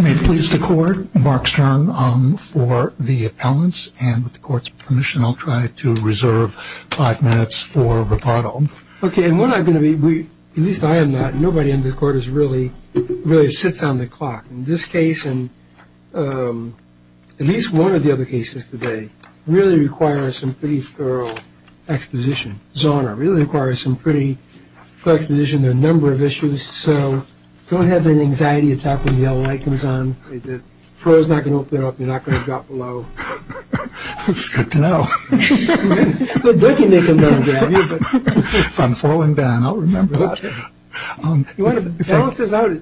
May it please the court, Mark Stern for the appellants and with the court's permission I'll try to reserve five minutes for rebuttal. Okay and we're not going to be, at least I am not, nobody in this court is really, really sits on the clock. In this case and at least one of the other cases today really requires some pretty thorough exposition. Zahner really requires some pretty thorough exposition. There are a number of issues so don't have that anxiety attack when the yellow light comes on. The floor's not going to open up, you're not going to drop below. It's good to know. If I'm falling down I'll remember that.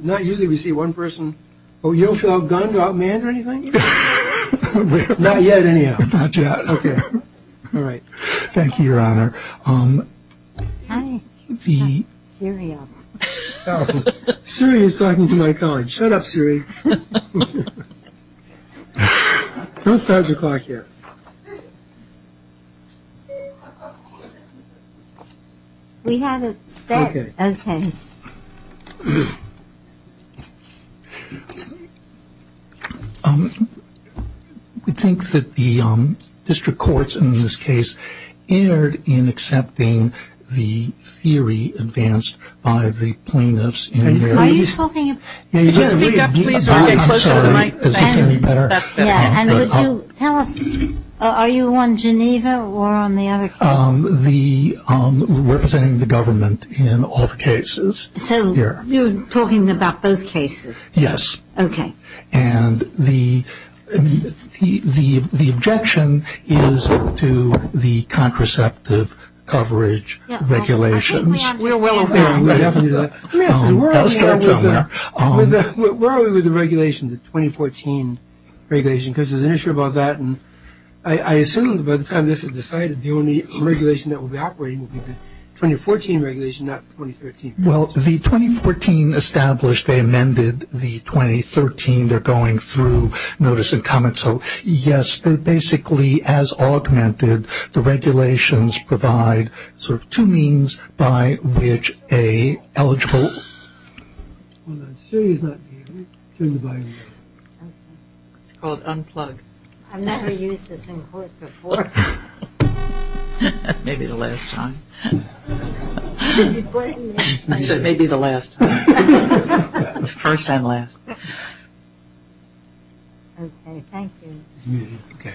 Not usually we see one person, oh you don't feel outgunned, outmanned or anything? Not yet anyhow. Not yet. Okay. All right. Thank you, Your Honor. Hi. Siri is talking to my colleague. Shut up, Siri. Don't start your clock here. We have it set. Okay. I think that the district courts in this case erred in accepting the theory advanced by the plaintiffs. Speak up please or get closer to the mic. Is this any better? That's better. Tell us, are you on Geneva or on the other case? Representing the government in all the cases. So you're talking about both cases? Yes. Okay. And the objection is to the contraceptive coverage regulations. I'll start somewhere. Where are we with the regulation, the 2014 regulation? Because there's an issue about that and I assume by the time this is decided, the only regulation that will be operating will be the 2014 regulation, not 2013. Well, the 2014 established, they amended the 2013. They're going through notice and comments. So, yes, they're basically as augmented. The regulations provide sort of two means by which a eligible. Hold on, Siri is not here. Turn the volume up. It's called unplug. I've never used this in court before. Maybe the last time. I said maybe the last time. First and last. Okay. Thank you. Okay.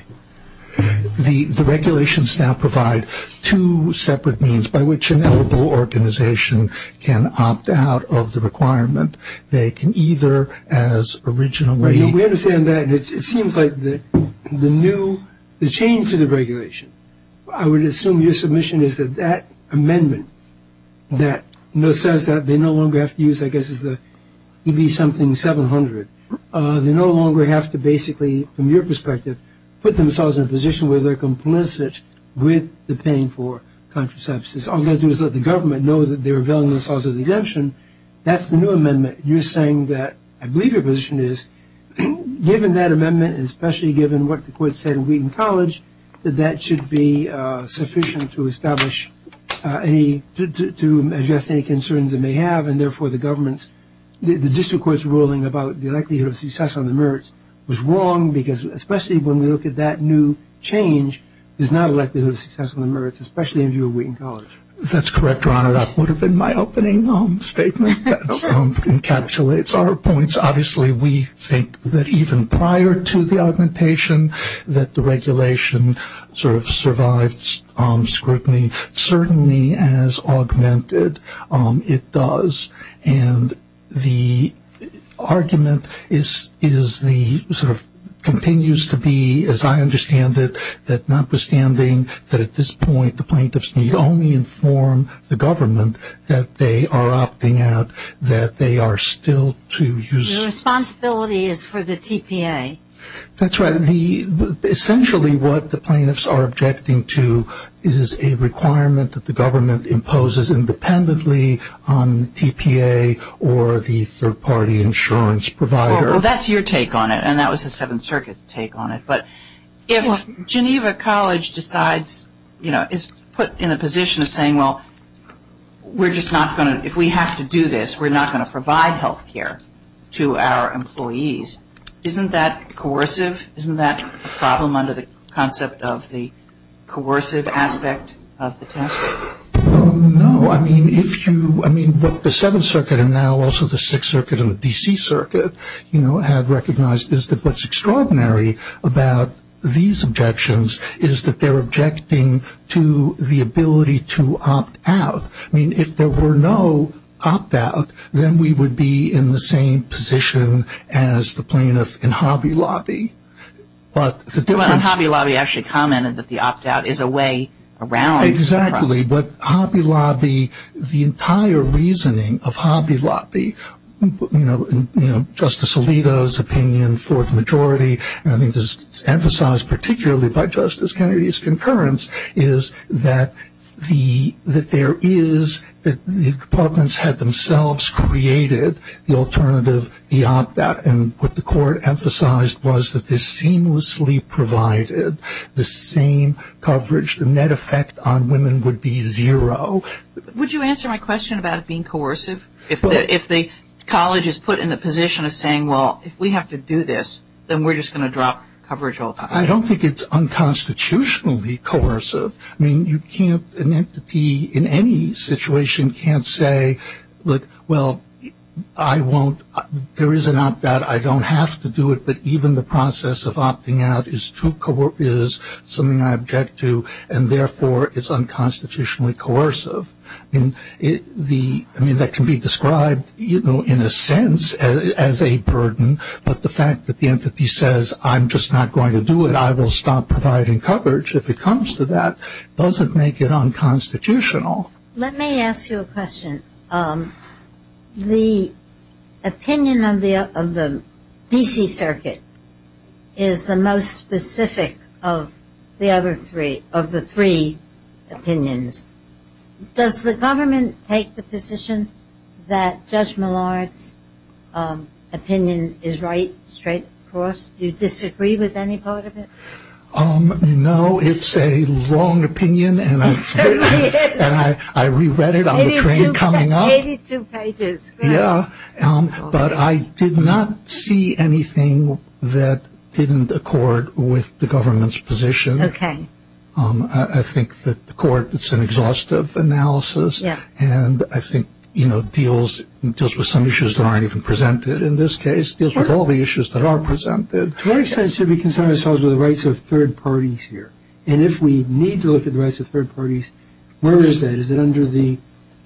The regulations now provide two separate means by which an eligible organization can opt out of the requirement. They can either, as originally. We understand that. It seems like the new, the change to the regulation, I would assume your submission is that that amendment that says that they no longer have to use, I guess it would be something 700. They no longer have to basically, from your perspective, put themselves in a position where they're complicit with the paying for contraceptives. All they have to do is let the government know that they're availing themselves of the exemption. That's the new amendment. You're saying that I believe your position is given that amendment, especially given what the court said in Wheaton College, that that should be sufficient to establish any, to address any concerns they may have and therefore the government's, the district court's ruling about the likelihood of success on the merits was wrong because especially when we look at that new change, there's not a likelihood of success on the merits, especially in view of Wheaton College. That's correct, Your Honor. That would have been my opening statement that encapsulates our points. Obviously, we think that even prior to the augmentation that the regulation sort of survived scrutiny. Certainly, as augmented, it does. And the argument is the, sort of, continues to be, as I understand it, that notwithstanding that at this point the plaintiffs need only inform the government that they are opting out, that they are still to use. The responsibility is for the TPA. That's right. Essentially, what the plaintiffs are objecting to is a requirement that the government imposes independently on TPA or the third-party insurance provider. Well, that's your take on it, and that was the Seventh Circuit take on it. But if Geneva College decides, you know, is put in a position of saying, well, we're just not going to, if we have to do this, we're not going to provide health care to our employees, isn't that coercive? Isn't that a problem under the concept of the coercive aspect of the test? No. I mean, if you, I mean, what the Seventh Circuit and now also the Sixth Circuit and the D.C. Circuit, you know, have recognized is that what's extraordinary about these objections is that they're objecting to the ability to opt out. I mean, if there were no opt out, then we would be in the same position as the plaintiffs in Hobby Lobby. But the difference – Well, Hobby Lobby actually commented that the opt out is a way around. Exactly. But Hobby Lobby, the entire reasoning of Hobby Lobby, you know, Justice Alito's opinion, fourth majority, and I think this is emphasized particularly by Justice Kennedy's concurrence, is that there is – that the departments had themselves created the alternative, the opt out, and what the court emphasized was that this seamlessly provided the same coverage. The net effect on women would be zero. Would you answer my question about it being coercive? If the college is put in the position of saying, well, if we have to do this, then we're just going to drop coverage altogether. I don't think it's unconstitutionally coercive. I mean, you can't – an entity in any situation can't say, look, well, I won't – there is an opt out. I don't have to do it, but even the process of opting out is too – is something I object to, and therefore it's unconstitutionally coercive. I mean, that can be described, you know, in a sense as a burden, but the fact that the entity says I'm just not going to do it, I will stop providing coverage, if it comes to that, doesn't make it unconstitutional. Let me ask you a question. The opinion of the D.C. Circuit is the most specific of the other three, of the three opinions. Does the government take the position that Judge Millard's opinion is right straight across? Do you disagree with any part of it? No. It's a long opinion, and I reread it on the train coming up. It certainly is. Eighty-two pages. Yeah, but I did not see anything that didn't accord with the government's position. Okay. I think that the court, it's an exhaustive analysis, and I think, you know, deals with some issues that aren't even presented in this case. It deals with all the issues that are presented. To what extent should we concern ourselves with the rights of third parties here? And if we need to look at the rights of third parties, where is that? Is it under the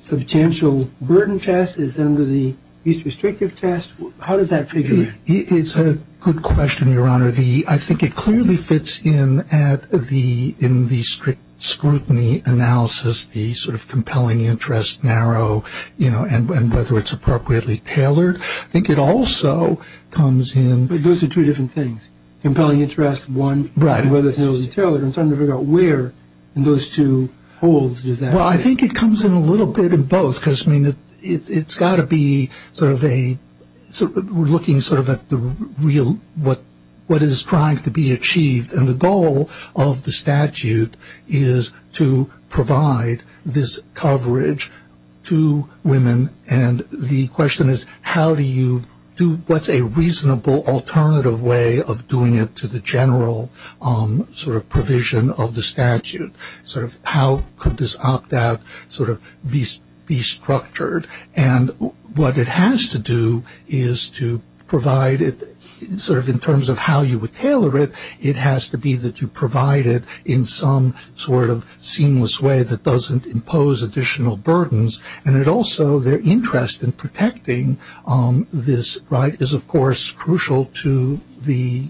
substantial burden test? Is it under the use-restrictive test? How does that figure in? It's a good question, Your Honor. I think it clearly fits in at the strict scrutiny analysis, the sort of compelling interest, narrow, you know, and whether it's appropriately tailored. I think it also comes in. But those are two different things, compelling interest, one. Right. And whether it's narrowly tailored. I'm trying to figure out where in those two holes does that fit. Well, I think it comes in a little bit in both, because, I mean, it's got to be sort of a looking sort of at the real, what is trying to be achieved. And the goal of the statute is to provide this coverage to women. And the question is, how do you do, what's a reasonable alternative way of doing it to the general sort of provision of the statute? Sort of how could this opt-out sort of be structured? And what it has to do is to provide it sort of in terms of how you would tailor it. It has to be that you provide it in some sort of seamless way that doesn't impose additional burdens. And it also, their interest in protecting this, right, is, of course, crucial to the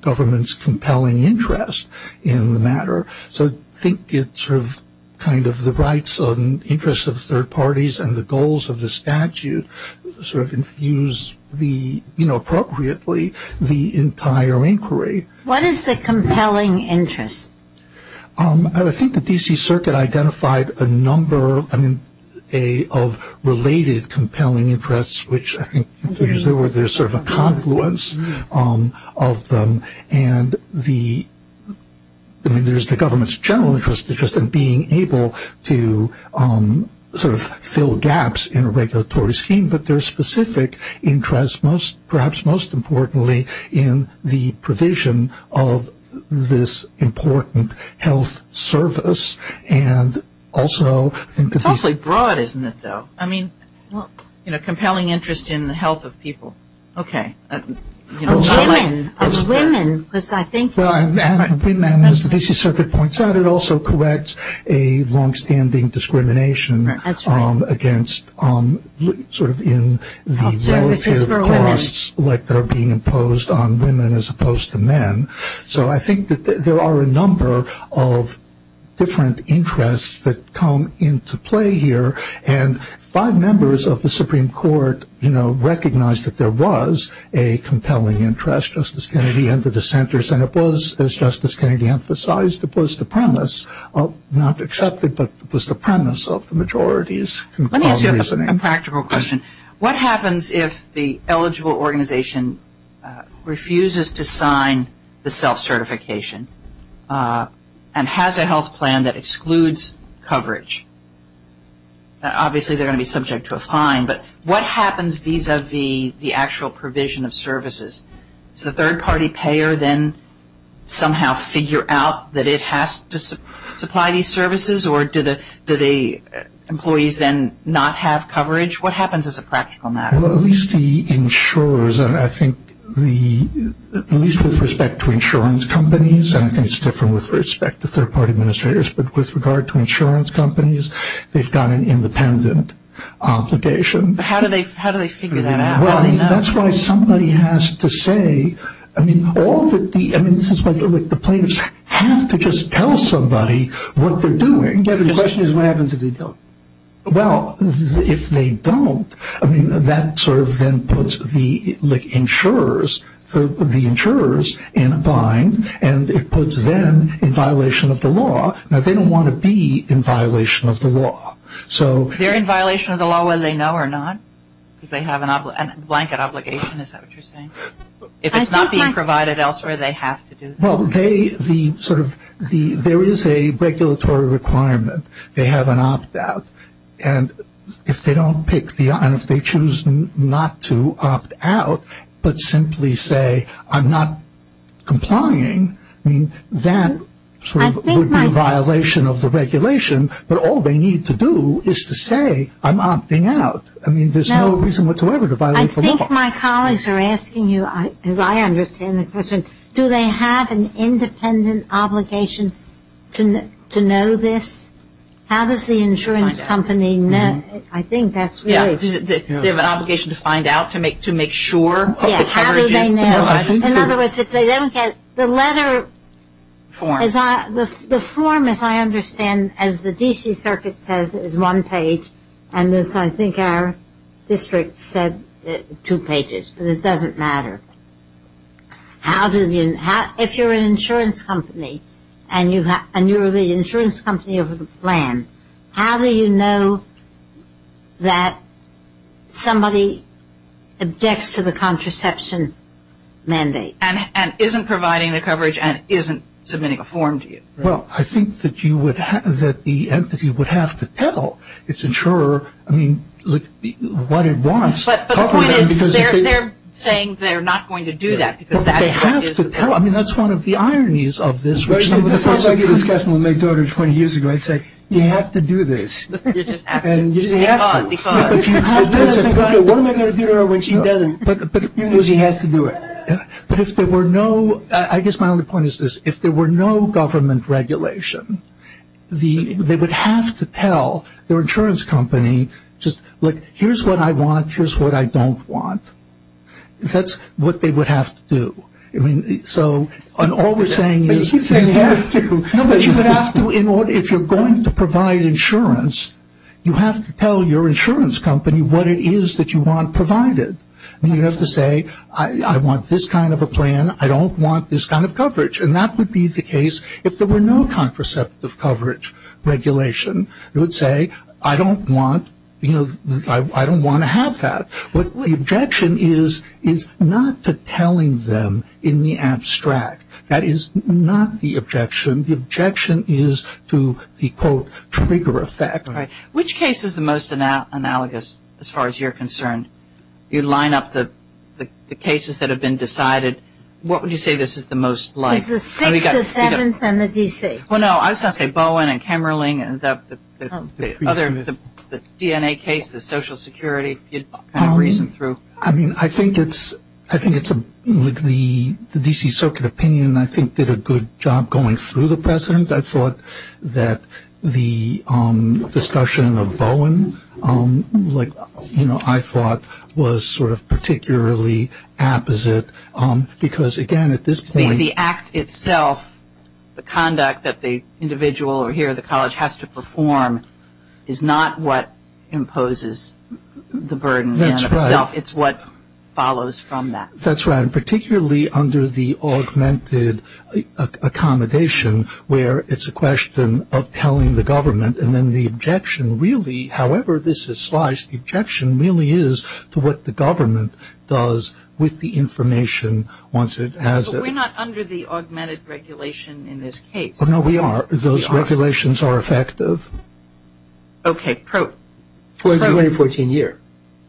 government's compelling interest in the matter. So I think it's sort of kind of the rights and interests of third parties and the goals of the statute sort of infuse the, you know, appropriately, the entire inquiry. What is the compelling interest? I think the D.C. Circuit identified a number of related compelling interests, which I think there's sort of a confluence of them. And the, I mean, there's the government's general interest in just being able to sort of fill gaps in a regulatory scheme. But there's specific interest, perhaps most importantly, in the provision of this important health service and also. It's awfully broad, isn't it, though? I mean, you know, compelling interest in the health of people. Okay. Of women. Of women. Because I think. Well, and women, as the D.C. Circuit points out, it also corrects a longstanding discrimination against sort of in the relative costs. Health services for women. Like that are being imposed on women as opposed to men. So I think that there are a number of different interests that come into play here. And five members of the Supreme Court, you know, recognized that there was a compelling interest, Justice Kennedy, and the dissenters. And it was, as Justice Kennedy emphasized, it was the premise, not accepted, but it was the premise of the majority's reasoning. Let me ask you a practical question. What happens if the eligible organization refuses to sign the self-certification and has a health plan that excludes coverage? Obviously, they're going to be subject to a fine. But what happens vis-a-vis the actual provision of services? Does the third-party payer then somehow figure out that it has to supply these services, or do the employees then not have coverage? What happens as a practical matter? Well, at least the insurers, and I think at least with respect to insurance companies, and I think it's different with respect to third-party administrators, but with regard to insurance companies, they've got an independent obligation. But how do they figure that out? That's why somebody has to say, I mean, all that the plaintiffs have to just tell somebody what they're doing. The question is what happens if they don't? Well, if they don't, I mean, that sort of then puts the insurers in a bind, and it puts them in violation of the law. Now, they don't want to be in violation of the law. They're in violation of the law whether they know or not, because they have a blanket obligation. Is that what you're saying? If it's not being provided elsewhere, they have to do that. Well, there is a regulatory requirement. They have an opt-out. And if they choose not to opt out but simply say, I'm not complying, I mean, that sort of would be a violation of the regulation, but all they need to do is to say, I'm opting out. I mean, there's no reason whatsoever to violate the law. I think my colleagues are asking you, as I understand the question, do they have an independent obligation to know this? How does the insurance company know? I think that's really – Yeah, they have an obligation to find out, to make sure of the coverages. Yeah, how do they know? In other words, if they don't get the letter – Form. The form, as I understand, as the D.C. Circuit says, is one page, and as I think our district said, two pages, but it doesn't matter. How do you – if you're an insurance company and you're the insurance company of a plan, how do you know that somebody objects to the contraception mandate? And isn't providing the coverage and isn't submitting a form to you. Well, I think that you would – that the entity would have to tell its insurer, I mean, what it wants. But the point is, they're saying they're not going to do that, because that's what it is. But they have to tell. I mean, that's one of the ironies of this. This sounds like a discussion with my daughter 20 years ago. I'd say, you have to do this. You just have to. And you just have to. Because. What am I going to do to her when she doesn't? Because she has to do it. But if there were no – I guess my only point is this. If there were no government regulation, they would have to tell their insurance company just, look, here's what I want, here's what I don't want. That's what they would have to do. I mean, so all we're saying is. But you keep saying they have to. No, but you would have to in order – if you're going to provide insurance, you have to tell your insurance company what it is that you want provided. I mean, you'd have to say, I want this kind of a plan, I don't want this kind of coverage. And that would be the case if there were no contraceptive coverage regulation. They would say, I don't want, you know, I don't want to have that. But the objection is not to telling them in the abstract. That is not the objection. The objection is to the, quote, trigger effect. Right. Which case is the most analogous as far as you're concerned? You line up the cases that have been decided. What would you say this is the most like? Because the 6th, the 7th, and the D.C. Well, no, I was going to say Bowen and Kemmerling and the other, the DNA case, the Social Security, kind of reason through. I mean, I think it's, I think it's, like, the D.C. Circuit opinion, I think, did a good job going through the precedent. I thought that the discussion of Bowen, like, you know, I thought was sort of particularly apposite because, again, at this point. I mean, the act itself, the conduct that the individual or here the college has to perform is not what imposes the burden on itself. That's right. It's what follows from that. That's right. And particularly under the augmented accommodation where it's a question of telling the government and then the objection really, however this is sliced, the objection really is to what the government does with the information once it has it. Are we not under the augmented regulation in this case? No, we are. Those regulations are effective. Okay. 2014 year.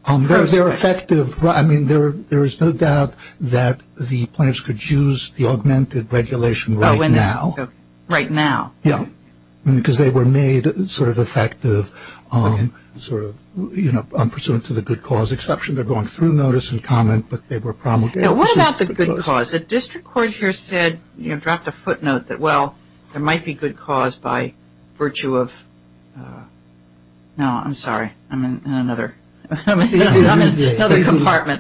They're effective. I mean, there is no doubt that the plans could use the augmented regulation right now. Right now. Yeah. Because they were made sort of effective, sort of, you know, unpursuant to the good cause exception. They're going through notice and comment, but they were promulgated. What about the good cause? The district court here said, you know, dropped a footnote that, well, there might be good cause by virtue of, no, I'm sorry. I'm in another compartment.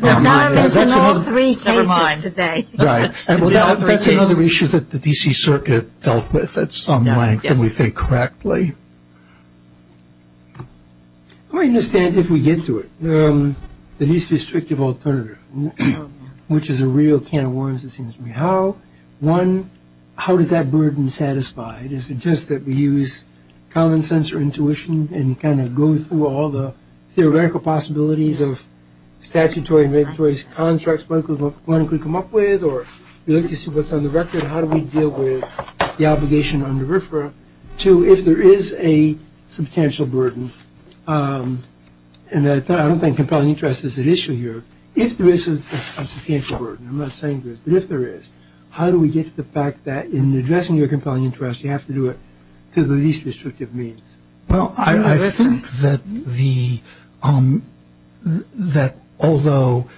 Never mind. That's in all three cases today. Right. That's another issue that the D.C. Circuit dealt with at some length, if we think correctly. I understand if we get to it. The least restrictive alternative, which is a real can of worms, it seems to me. How? One, how does that burden satisfy? Is it just that we use common sense or intuition and kind of go through all the theoretical possibilities of statutory and regulatory constructs, what one could come up with, or we like to see what's on the record. How do we deal with the obligation under RFRA? Two, if there is a substantial burden, and I don't think compelling interest is at issue here. If there is a substantial burden, I'm not saying there is, but if there is, how do we get to the fact that in addressing your compelling interest, you have to do it to the least restrictive means? Well, I think that although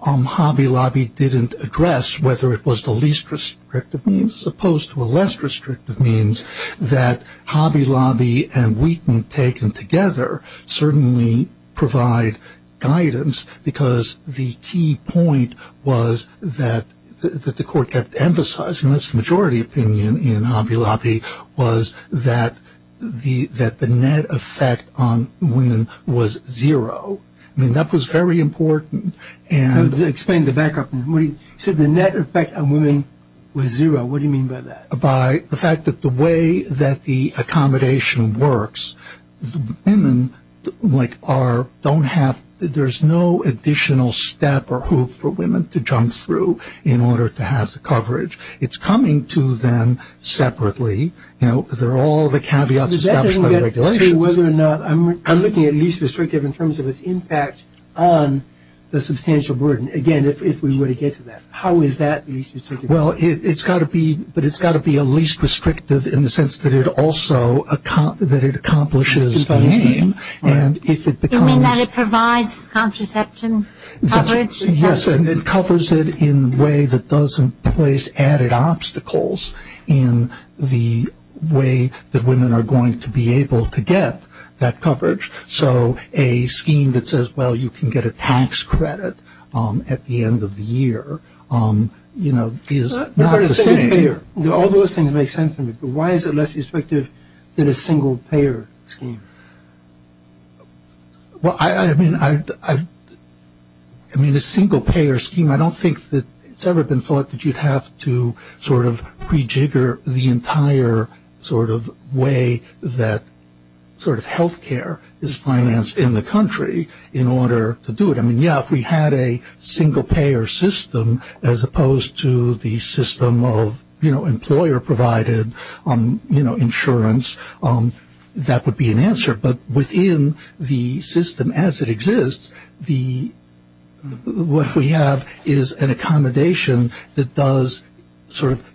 Hobby Lobby didn't address whether it was the least restrictive means as opposed to a less restrictive means, that Hobby Lobby and Wheaton taken together certainly provide guidance because the key point was that the court kept emphasizing, and that's the majority opinion in Hobby Lobby, was that the net effect on women was zero. I mean, that was very important. Explain the back up. You said the net effect on women was zero. What do you mean by that? By the fact that the way that the accommodation works, women don't have, there's no additional step or hoop for women to jump through in order to have the coverage. It's coming to them separately. They're all the caveats established by the regulations. I'm looking at least restrictive in terms of its impact on the substantial burden. Again, if we were to get to that. How is that least restrictive? Well, it's got to be a least restrictive in the sense that it also accomplishes the aim. You mean that it provides contraception coverage? Yes, and it covers it in a way that doesn't place added obstacles in the way that women are going to be able to get that coverage. So a scheme that says, well, you can get a tax credit at the end of the year, you know, is not the same. All those things make sense to me, but why is it less restrictive than a single-payer scheme? Well, I mean, a single-payer scheme, I don't think that it's ever been thought that you'd have to sort of prejigger the entire sort of way that sort of healthcare is financed in the country in order to do it. I mean, yeah, if we had a single-payer system as opposed to the system of, you know, employer-provided insurance, that would be an answer. But within the system as it exists, what we have is an accommodation that does sort of,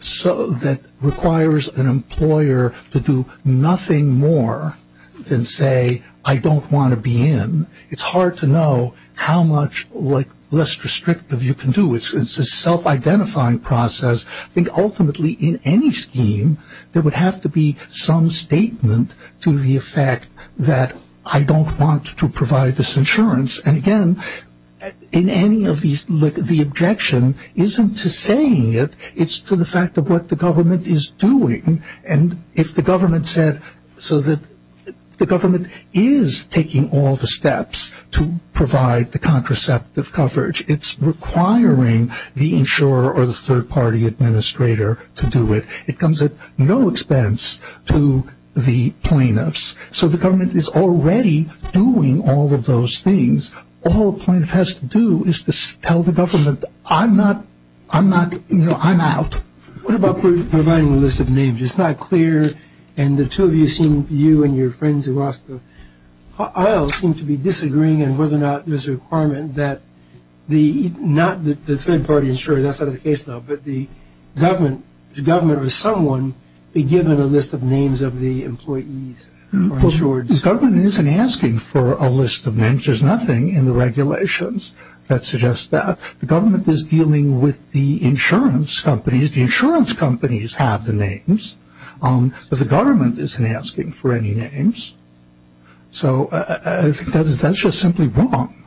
that requires an employer to do nothing more than say, I don't want to be in. It's hard to know how much less restrictive you can do. It's a self-identifying process. I think ultimately in any scheme, there would have to be some statement to the effect that I don't want to provide this insurance. And again, in any of these, the objection isn't to saying it, it's to the fact of what the government is doing. And if the government said so that the government is taking all the steps to provide the contraceptive coverage, it's requiring the insurer or the third-party administrator to do it. It comes at no expense to the plaintiffs. So the government is already doing all of those things. All a plaintiff has to do is to tell the government, I'm not, I'm not, you know, I'm out. What about providing a list of names? It's not clear, and the two of you seem, you and your friends who asked, I seem to be disagreeing on whether or not there's a requirement that the, not the third-party insurer, that's not the case now, but the government or someone be given a list of names of the employees or insurers. The government isn't asking for a list of names. There's nothing in the regulations that suggests that. The government is dealing with the insurance companies. The insurance companies have the names. But the government isn't asking for any names. So I think that's just simply wrong.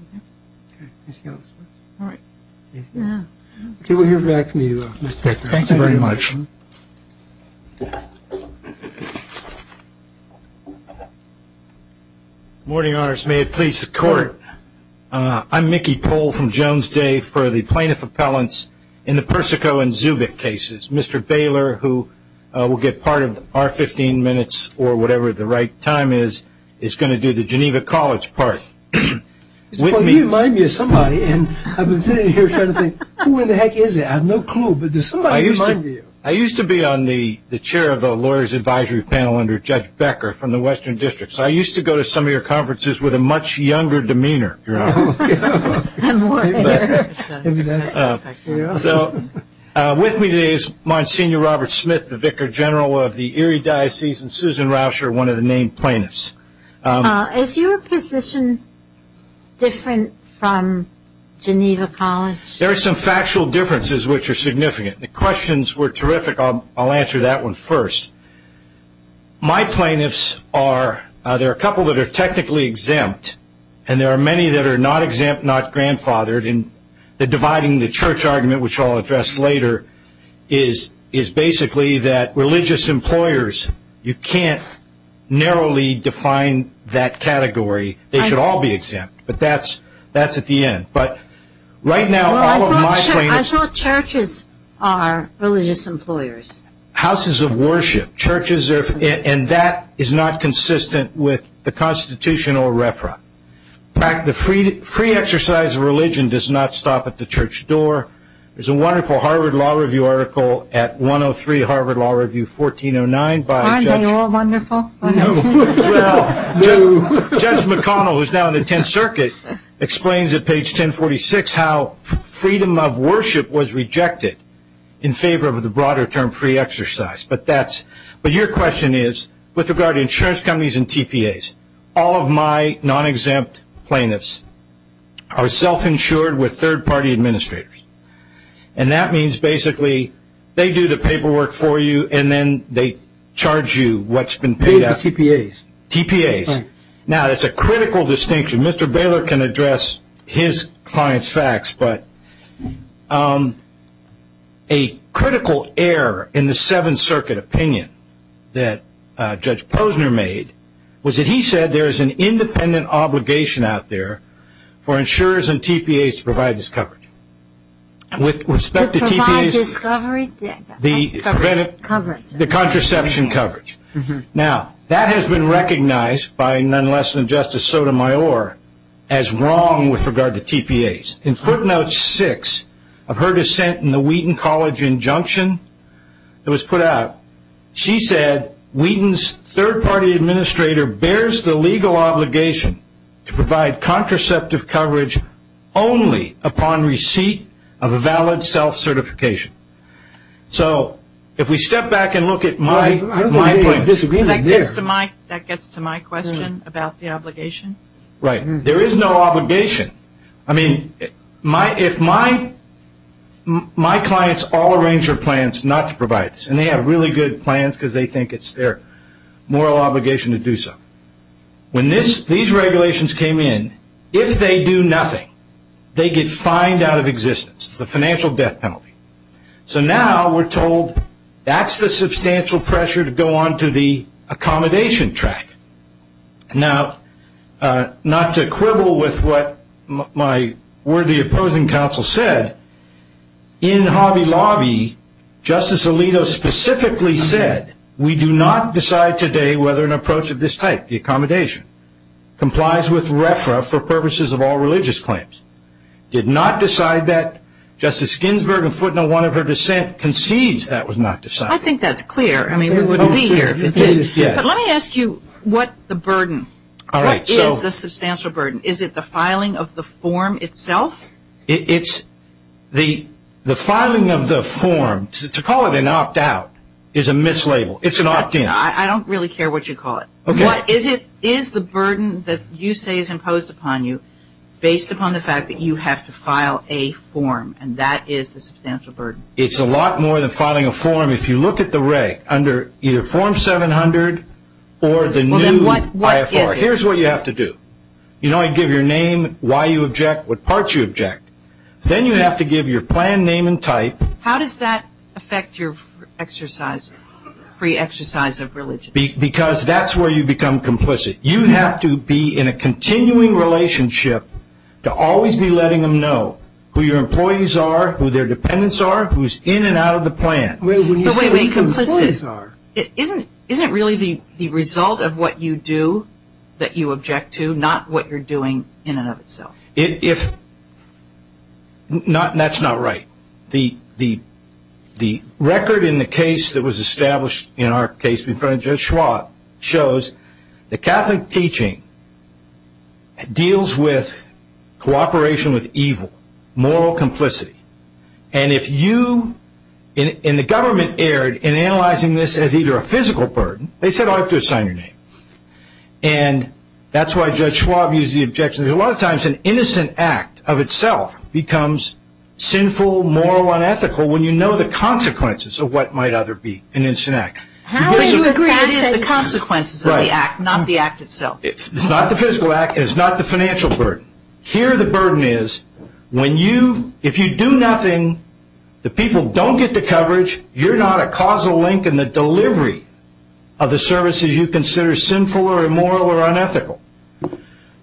Okay. Anything else? All right. Yeah. Okay, we'll hear back from you, Mr. Decker. Thank you very much. Good morning, Your Honors. May it please the Court, I'm Mickey Pohl from Jones Day for the Plaintiff Appellants in the Persico and Zubik cases. Mr. Baylor, who will get part of our 15 minutes or whatever the right time is, is going to do the Geneva College part with me. Well, you remind me of somebody, and I've been sitting here trying to think, who in the heck is that? I have no clue. But does somebody remind you? I used to be on the Chair of the Lawyers Advisory Panel under Judge Becker from the Western District. I'm worried. So with me today is Monsignor Robert Smith, the Vicar General of the Erie Diocese, and Susan Rauscher, one of the named plaintiffs. Is your position different from Geneva College? There are some factual differences which are significant. The questions were terrific. I'll answer that one first. My plaintiffs are, there are a couple that are technically exempt, and there are many that are not exempt, not grandfathered. And the dividing the church argument, which I'll address later, is basically that religious employers, you can't narrowly define that category. They should all be exempt. But that's at the end. But right now all of my plaintiffs. I thought churches are religious employers. Houses of worship. And that is not consistent with the constitutional referent. The free exercise of religion does not stop at the church door. There's a wonderful Harvard Law Review article at 103 Harvard Law Review 1409. Aren't they all wonderful? No. Well, Judge McConnell, who's now in the Tenth Circuit, explains at page 1046 how freedom of worship was rejected in favor of the broader term free exercise. But your question is, with regard to insurance companies and TPAs, all of my non-exempt plaintiffs are self-insured with third-party administrators. And that means basically they do the paperwork for you, and then they charge you what's been paid out. TPAs. TPAs. Now, that's a critical distinction. Mr. Baylor can address his client's facts, but a critical error in the Seventh Circuit opinion that Judge Posner made was that he said there is an independent obligation out there for insurers and TPAs to provide this coverage. With respect to TPAs. Provide this coverage? The contraception coverage. Now, that has been recognized by none less than Justice Sotomayor as wrong with regard to TPAs. In footnote six of her dissent in the Wheaton College injunction that was put out, she said Wheaton's third-party administrator bears the legal obligation to provide contraceptive coverage only upon receipt of a valid self-certification. So if we step back and look at my point. That gets to my question about the obligation. Right. There is no obligation. I mean, if my clients all arrange their plans not to provide this, and they have really good plans because they think it's their moral obligation to do so. When these regulations came in, if they do nothing, they get fined out of existence. It's the financial death penalty. So now we're told that's the substantial pressure to go on to the accommodation track. Now, not to quibble with what my worthy opposing counsel said, in Hobby Lobby, Justice Alito specifically said we do not decide today whether an approach of this type, the accommodation, complies with RFRA for purposes of all religious claims. Did not decide that. Justice Ginsburg in footnote one of her dissent concedes that was not decided. I think that's clear. I mean, we wouldn't be here if it didn't. But let me ask you what the burden, what is the substantial burden? Is it the filing of the form itself? It's the filing of the form. To call it an opt-out is a mislabel. It's an opt-in. I don't really care what you call it. What is the burden that you say is imposed upon you based upon the fact that you have to file a form? And that is the substantial burden. It's a lot more than filing a form. If you look at the reg under either form 700 or the new RFRA. Here's what you have to do. You know, I give your name, why you object, what parts you object. Then you have to give your plan, name, and type. How does that affect your exercise, free exercise of religion? Because that's where you become complicit. You have to be in a continuing relationship to always be letting them know who your employees are, who their dependents are, who's in and out of the plan. Wait, wait, complicit. Isn't it really the result of what you do that you object to, not what you're doing in and of itself? That's not right. The record in the case that was established in our case in front of Judge Schwab shows that Catholic teaching deals with cooperation with evil, moral complicity. And if you and the government erred in analyzing this as either a physical burden, they said, oh, you have to assign your name. And that's why Judge Schwab used the objection. Because a lot of times an innocent act of itself becomes sinful, moral, unethical, when you know the consequences of what might other be an innocent act. That is the consequences of the act, not the act itself. It's not the physical act. It's not the financial burden. Here the burden is when you, if you do nothing, the people don't get the coverage. You're not a causal link in the delivery of the services you consider sinful or immoral or unethical.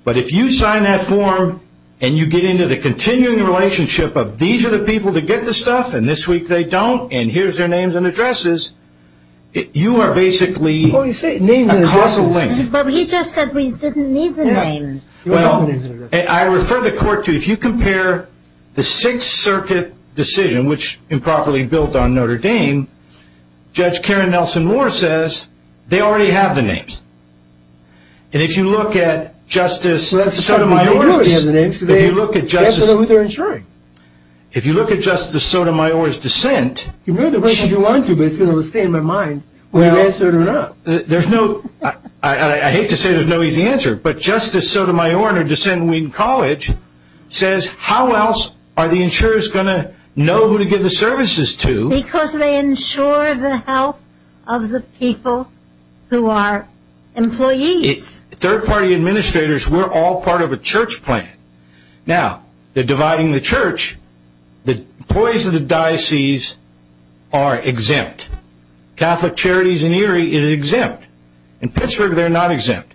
But if you sign that form and you get into the continuing relationship of these are the people that get the stuff and this week they don't and here's their names and addresses, you are basically a causal link. But he just said we didn't need the names. Well, I refer the court to if you compare the Sixth Circuit decision, which improperly built on Notre Dame, Judge Karen Nelson Moore says they already have the names. And if you look at Justice Sotomayor's, if you look at Justice, if you look at Justice Sotomayor's dissent. You can do whatever you want to, but it's going to stay in my mind whether you answer it or not. Well, there's no, I hate to say there's no easy answer, but Justice Sotomayor in her dissent in Wheaton College says how else are the insurers going to know who to give the services to? Because they insure the health of the people who are employees. Third party administrators, we're all part of a church plan. Now, they're dividing the church. The employees of the diocese are exempt. Catholic Charities in Erie is exempt. In Pittsburgh they're not exempt.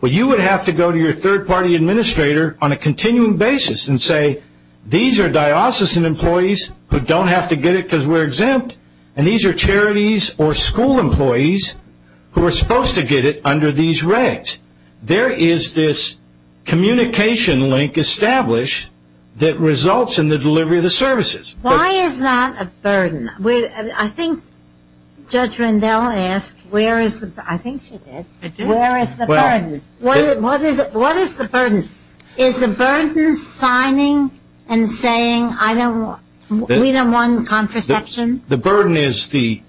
Well, you would have to go to your third party administrator on a continuing basis and say, these are diocesan employees who don't have to get it because we're exempt, and these are charities or school employees who are supposed to get it under these regs. There is this communication link established that results in the delivery of the services. Why is that a burden? I think Judge Rendell asked, I think she did, where is the burden? What is the burden? Is the burden signing and saying we don't want contraception? The burden is the,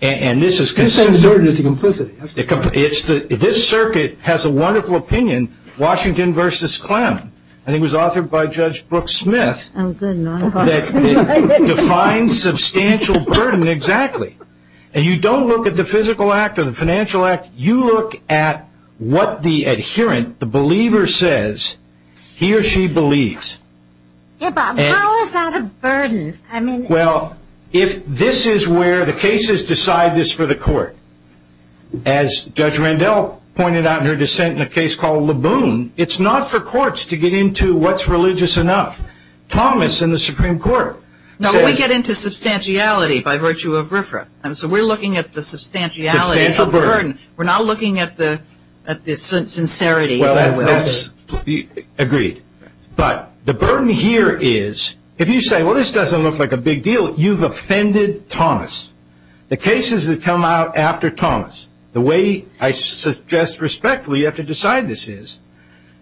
and this is consistent. You said the burden is the complicity. This circuit has a wonderful opinion, Washington versus Clem, and it was authored by Judge Brooke Smith that defines substantial burden exactly. And you don't look at the physical act or the financial act. You look at what the adherent, the believer says he or she believes. How is that a burden? Well, if this is where the cases decide this for the court, as Judge Rendell pointed out in her dissent in a case called Laboon, it's not for courts to get into what's religious enough. Thomas in the Supreme Court says. No, we get into substantiality by virtue of RFRA. And so we're looking at the substantiality of the burden. We're not looking at the sincerity. Well, that's agreed. But the burden here is if you say, well, this doesn't look like a big deal, you've offended Thomas. The cases that come out after Thomas, the way I suggest respectfully you have to decide this is,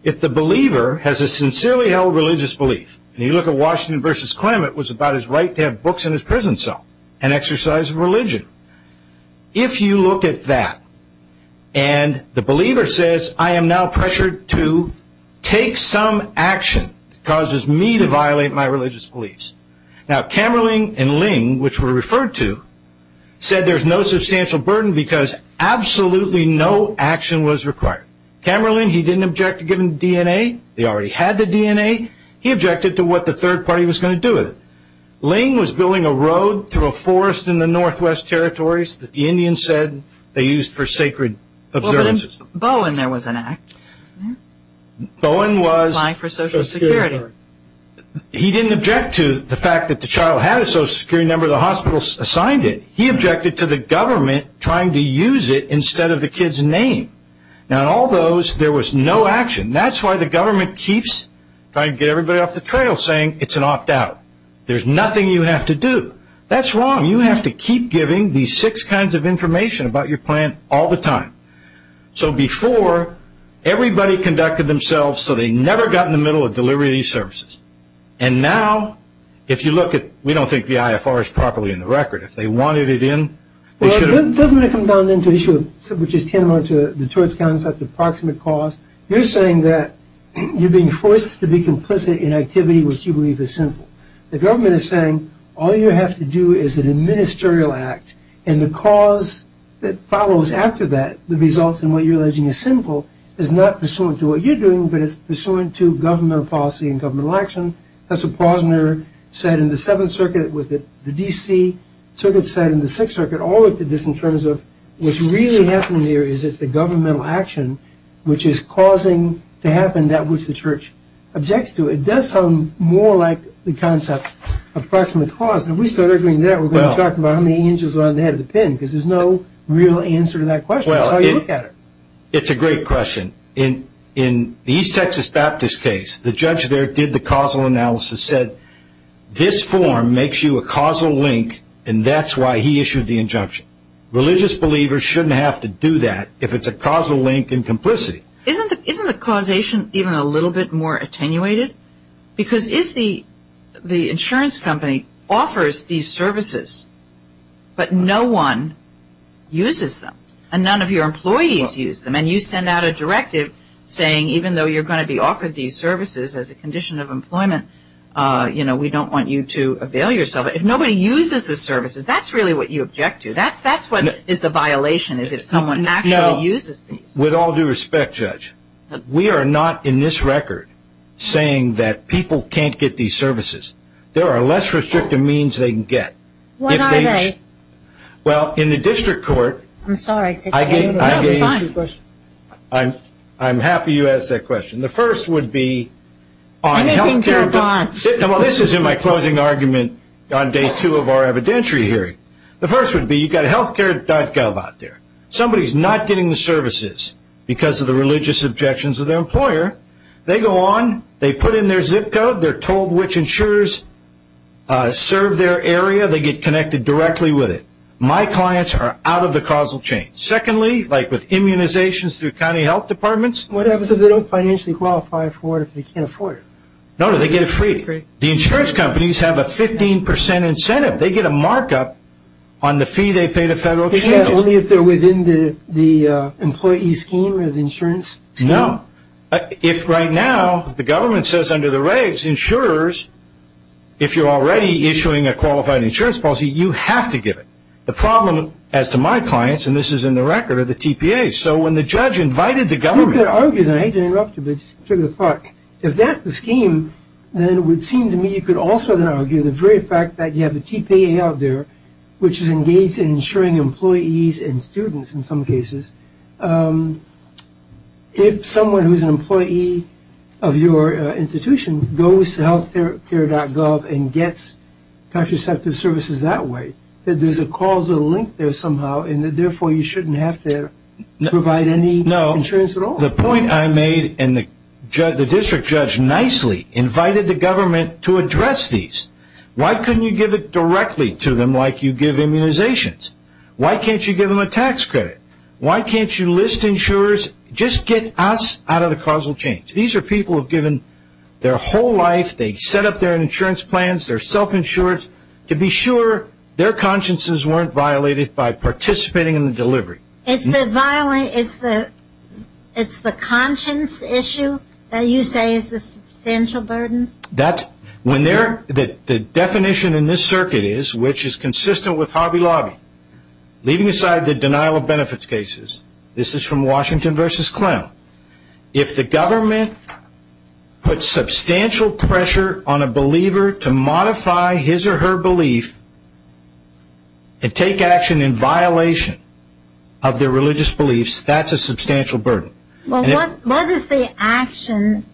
if the believer has a sincerely held religious belief, and you look at Washington v. Clement, it was about his right to have books in his prison cell, an exercise of religion. If you look at that and the believer says, I am now pressured to take some action that causes me to violate my religious beliefs. Now, Kammerling and Ling, which were referred to, said there's no substantial burden because absolutely no action was required. Kammerling, he didn't object to giving DNA. He already had the DNA. He objected to what the third party was going to do with it. Ling was building a road through a forest in the Northwest Territories that the Indians said they used for sacred observances. Well, but in Bowen there was an act. Bowen was... Applying for Social Security. He didn't object to the fact that the child had a Social Security number. The hospital assigned it. He objected to the government trying to use it instead of the kid's name. Now, in all those, there was no action. And that's why the government keeps trying to get everybody off the trail, saying it's an opt-out. There's nothing you have to do. That's wrong. You have to keep giving these six kinds of information about your plan all the time. So before, everybody conducted themselves so they never got in the middle of delivering these services. And now, if you look at... We don't think the IFR is properly in the record. If they wanted it in, they should have... Well, doesn't it come down into issue, which is tantamount to the choice counts at the proximate cause? You're saying that you're being forced to be complicit in activity which you believe is sinful. The government is saying all you have to do is an administerial act, and the cause that follows after that, the results in what you're alleging is sinful, is not pursuant to what you're doing, but it's pursuant to governmental policy and governmental action. That's what Posner said in the Seventh Circuit with the D.C. Circuit said in the Sixth Circuit. What's really happening here is it's the governmental action which is causing to happen that which the church objects to. It does sound more like the concept of proximate cause. And we started agreeing to that. We're going to be talking about how many angels are on the head of the pin because there's no real answer to that question. That's how you look at it. It's a great question. In the East Texas Baptist case, the judge there did the causal analysis, said this form makes you a causal link, and that's why he issued the injunction. Religious believers shouldn't have to do that if it's a causal link in complicity. Isn't the causation even a little bit more attenuated? Because if the insurance company offers these services, but no one uses them, and none of your employees use them, and you send out a directive saying even though you're going to be offered these services as a condition of employment, you know, we don't want you to avail yourself. If nobody uses the services, that's really what you object to. That's what is the violation is if someone actually uses these. With all due respect, Judge, we are not in this record saying that people can't get these services. There are less restrictive means they can get. What are they? Well, in the district court, I'm happy you asked that question. The first would be on health care bonds. Well, this is in my closing argument on day two of our evidentiary hearing. The first would be you've got healthcare.gov out there. Somebody is not getting the services because of the religious objections of their employer. They go on. They put in their zip code. They're told which insurers serve their area. They get connected directly with it. My clients are out of the causal chain. Secondly, like with immunizations through county health departments. What happens if they don't financially qualify for it if they can't afford it? No, no. They get it free. The insurance companies have a 15% incentive. They get a markup on the fee they pay to federal insurance. Only if they're within the employee scheme or the insurance scheme. No. If right now the government says under the regs insurers, if you're already issuing a qualified insurance policy, you have to give it. The problem as to my clients, and this is in the record, are the TPAs. So when the judge invited the government. If that's the scheme, then it would seem to me you could also argue the very fact that you have a TPA out there which is engaged in insuring employees and students in some cases. If someone who's an employee of your institution goes to healthcare.gov and gets contraceptive services that way, that there's a causal link there somehow and therefore you shouldn't have to provide any insurance at all. The point I made and the district judge nicely invited the government to address these. Why couldn't you give it directly to them like you give immunizations? Why can't you give them a tax credit? Why can't you list insurers? Just get us out of the causal change. These are people who have given their whole life. They set up their insurance plans, their self-insurance, to be sure their consciences weren't violated by participating in the delivery. It's the conscience issue that you say is the substantial burden? The definition in this circuit is, which is consistent with Hobby Lobby, leaving aside the denial of benefits cases. This is from Washington v. Clem. If the government puts substantial pressure on a believer to modify his or her belief and take action in violation of their religious beliefs, that's a substantial burden. What is the action?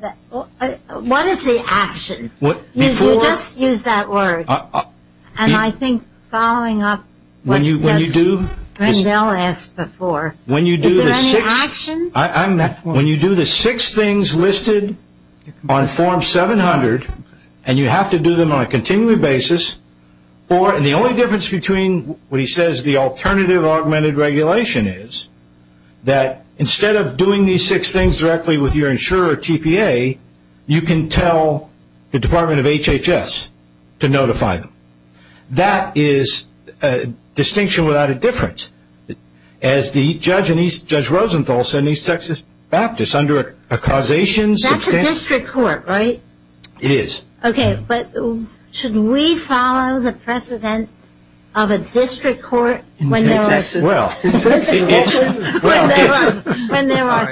You just used that word. And I think following up what Grendel asked before, is there any action? When you do the six things listed on form 700 and you have to do them on a continuing basis, and the only difference between what he says the alternative augmented regulation is, that instead of doing these six things directly with your insurer or TPA, you can tell the Department of HHS to notify them. That is a distinction without a difference. As the judge, Judge Rosenthal, said in East Texas Baptist under a causation. That's a district court, right? It is. Okay, but should we follow the precedent of a district court when there are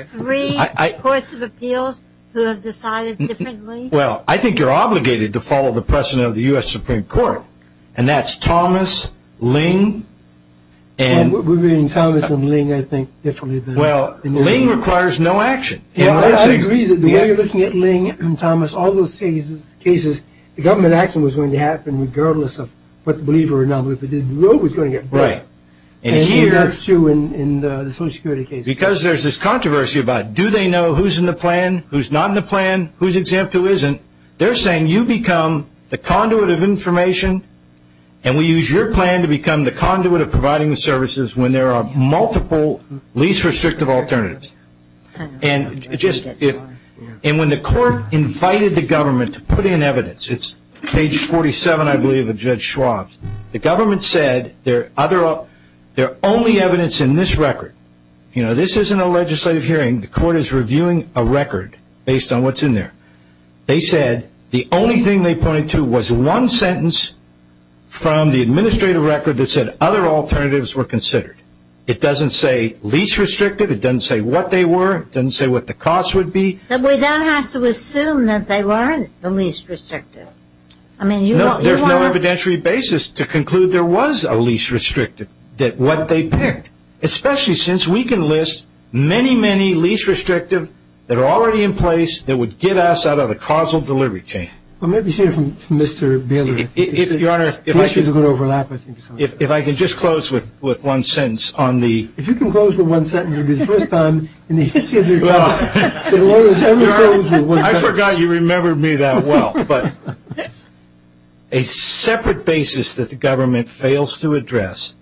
three courts of appeals who have decided differently? Well, I think you're obligated to follow the precedent of the U.S. Supreme Court, and that's Thomas, Ling, and... We're reading Thomas and Ling, I think, differently than... Well, Ling requires no action. I agree that the way you're looking at Ling and Thomas, all those cases, the government action was going to happen regardless of what the believer or nonbeliever did. The road was going to get blocked. Right. And here... And that's true in the Social Security case. Because there's this controversy about do they know who's in the plan, who's not in the plan, who's exempt, who isn't. They're saying you become the conduit of information, and we use your plan to become the conduit of providing the services when there are multiple least restrictive alternatives. And when the court invited the government to put in evidence, it's page 47, I believe, of Judge Schwab's, the government said there are only evidence in this record. You know, this isn't a legislative hearing. The court is reviewing a record based on what's in there. They said the only thing they pointed to was one sentence from the administrative record that said other alternatives were considered. It doesn't say least restrictive. It doesn't say what they were. It doesn't say what the cost would be. But we don't have to assume that they weren't the least restrictive. I mean, you don't... No, there's no evidentiary basis to conclude there was a least restrictive, what they picked, especially since we can list many, many least restrictive that are already in place that would get us out of the causal delivery chain. Well, maybe you should hear from Mr. Baylor. Your Honor, if I could just close with one sentence on the... If you can close with one sentence, it would be the first time in the history of your government that lawyers have ever closed with one sentence. Your Honor, I forgot you remembered me that well. But a separate basis that the government fails to address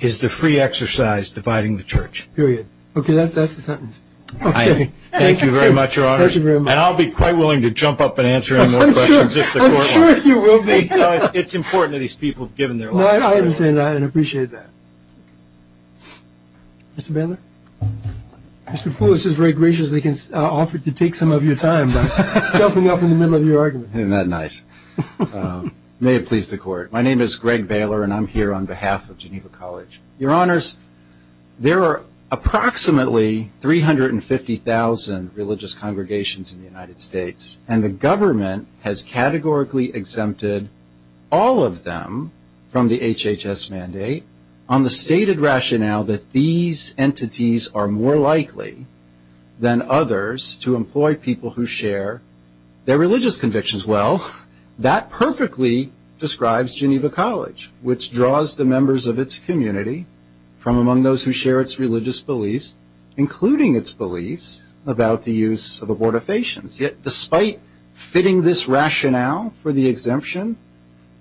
is the free exercise dividing the church. Period. Okay, that's the sentence. Okay. Thank you very much, Your Honor. Thank you very much. And I'll be quite willing to jump up and answer any more questions. I'm sure you will be. It's important that these people have given their lives. No, I understand that and appreciate that. Mr. Baylor? Mr. Poulos has very graciously offered to take some of your time by jumping up in the middle of your argument. Isn't that nice? May it please the Court. My name is Greg Baylor, and I'm here on behalf of Geneva College. Your Honors, there are approximately 350,000 religious congregations in the United States, and the government has categorically exempted all of them from the HHS mandate on the stated rationale that these entities are more likely than others to employ people who share their religious convictions. That perfectly describes Geneva College, which draws the members of its community from among those who share its religious beliefs, including its beliefs about the use of abortifacients. Yet despite fitting this rationale for the exemption,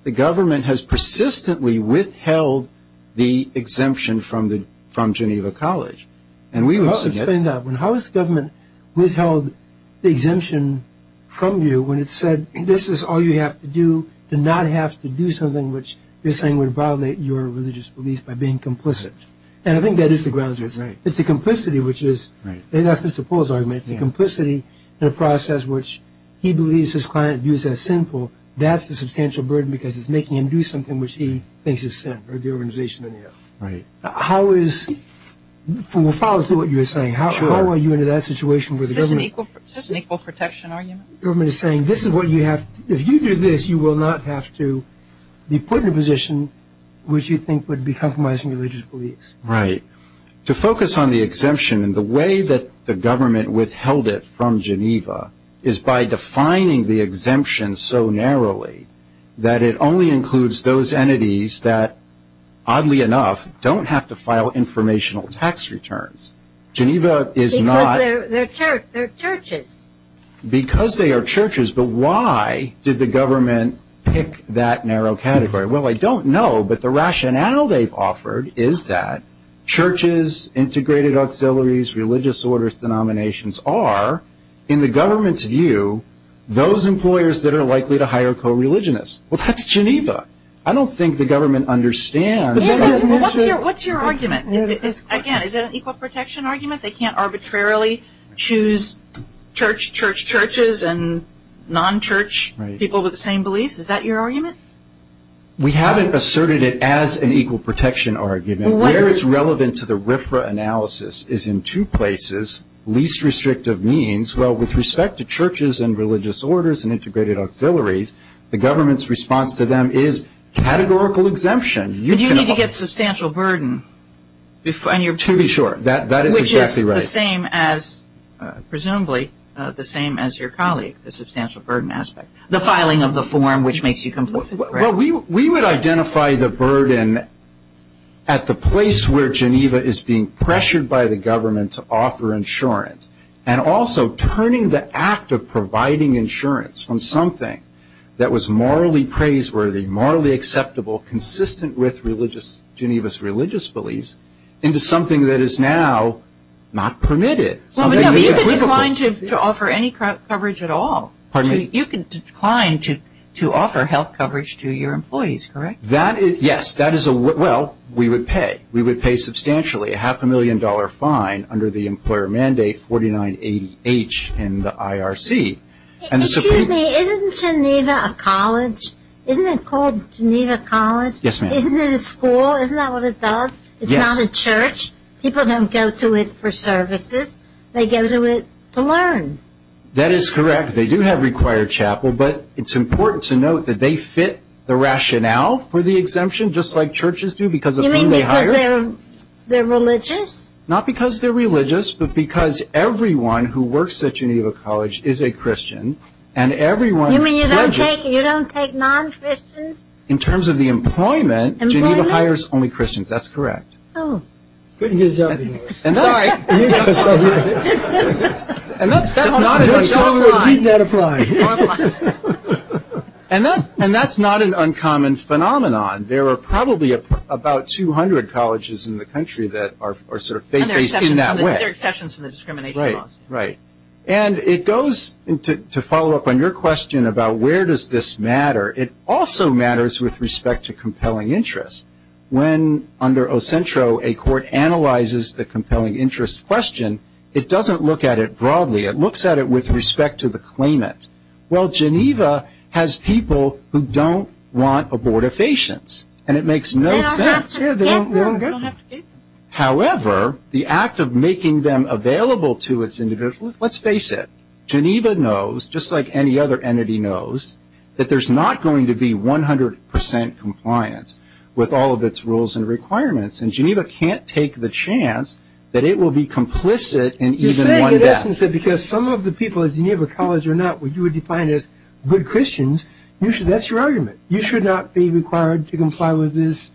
the government has persistently withheld the exemption from Geneva College. Explain that. How has the government withheld the exemption from you when it said this is all you have to do to not have to do something which you're saying would violate your religious beliefs by being complicit? And I think that is the grounds. It's the complicity, which is, and that's Mr. Poulos' argument, it's the complicity in a process which he believes his client views as sinful. That's the substantial burden because it's making him do something which he thinks is sin, or the organization in the end. Right. How is, we'll follow through with what you're saying. Sure. How are you in that situation where the government? This is an equal protection argument. The government is saying this is what you have, if you do this, you will not have to be put in a position which you think would be compromising religious beliefs. Right. To focus on the exemption and the way that the government withheld it from Geneva is by defining the exemption so narrowly that it only includes those entities that, oddly enough, don't have to file informational tax returns. Geneva is not. Because they're churches. Because they are churches, but why did the government pick that narrow category? Well, I don't know, but the rationale they've offered is that churches, integrated auxiliaries, religious orders denominations are, in the government's view, those employers that are likely to hire co-religionists. Well, that's Geneva. I don't think the government understands. What's your argument? Again, is it an equal protection argument? They can't arbitrarily choose church, church, churches, and non-church people with the same beliefs? Is that your argument? We haven't asserted it as an equal protection argument. Where it's relevant to the RFRA analysis is in two places, least restrictive means. Well, with respect to churches and religious orders and integrated auxiliaries, the government's response to them is categorical exemption. But you need to get substantial burden. To be sure. That is exactly right. Which is the same as, presumably, the same as your colleague, the substantial burden aspect, the filing of the form which makes you complicit. Well, we would identify the burden at the place where Geneva is being pressured by the government to offer insurance. And also, turning the act of providing insurance from something that was morally praiseworthy, morally acceptable, consistent with Geneva's religious beliefs, into something that is now not permitted. You can decline to offer any coverage at all. Pardon me? You can decline to offer health coverage to your employees, correct? Yes. Well, we would pay. We would pay substantially, a half a million dollar fine under the employer mandate 49H in the IRC. Excuse me. Isn't Geneva a college? Isn't it called Geneva College? Yes, ma'am. Isn't it a school? Isn't that what it does? Yes. It's not a church. People don't go to it for services. They go to it to learn. That is correct. They do have required chapel. But it's important to note that they fit the rationale for the exemption, just like churches do, because of whom they hire. You mean because they're religious? Not because they're religious, but because everyone who works at Geneva College is a Christian. And everyone pledges. You mean you don't take non-Christians? In terms of the employment, Geneva hires only Christians. That's correct. Oh. Couldn't get a job in the U.S. Sorry. And that's not an uncommon phenomenon. And that's not an uncommon phenomenon. There are probably about 200 colleges in the country that are sort of faith-based in that way. And there are exceptions for the discrimination laws. Right, right. And it goes, to follow up on your question about where does this matter, it also matters with respect to compelling interest. When, under Ocentro, a court analyzes the compelling interest question, it doesn't look at it broadly. It looks at it with respect to the claimant. Well, Geneva has people who don't want abortifacients. And it makes no sense. They don't have to get them. However, the act of making them available to its individuals, let's face it, Geneva knows, just like any other entity knows, that there's not going to be 100% compliance with all of its rules and requirements. And Geneva can't take the chance that it will be complicit in even one death. The question is that because some of the people at Geneva College are not what you would define as good Christians, that's your argument. You should not be required to comply with this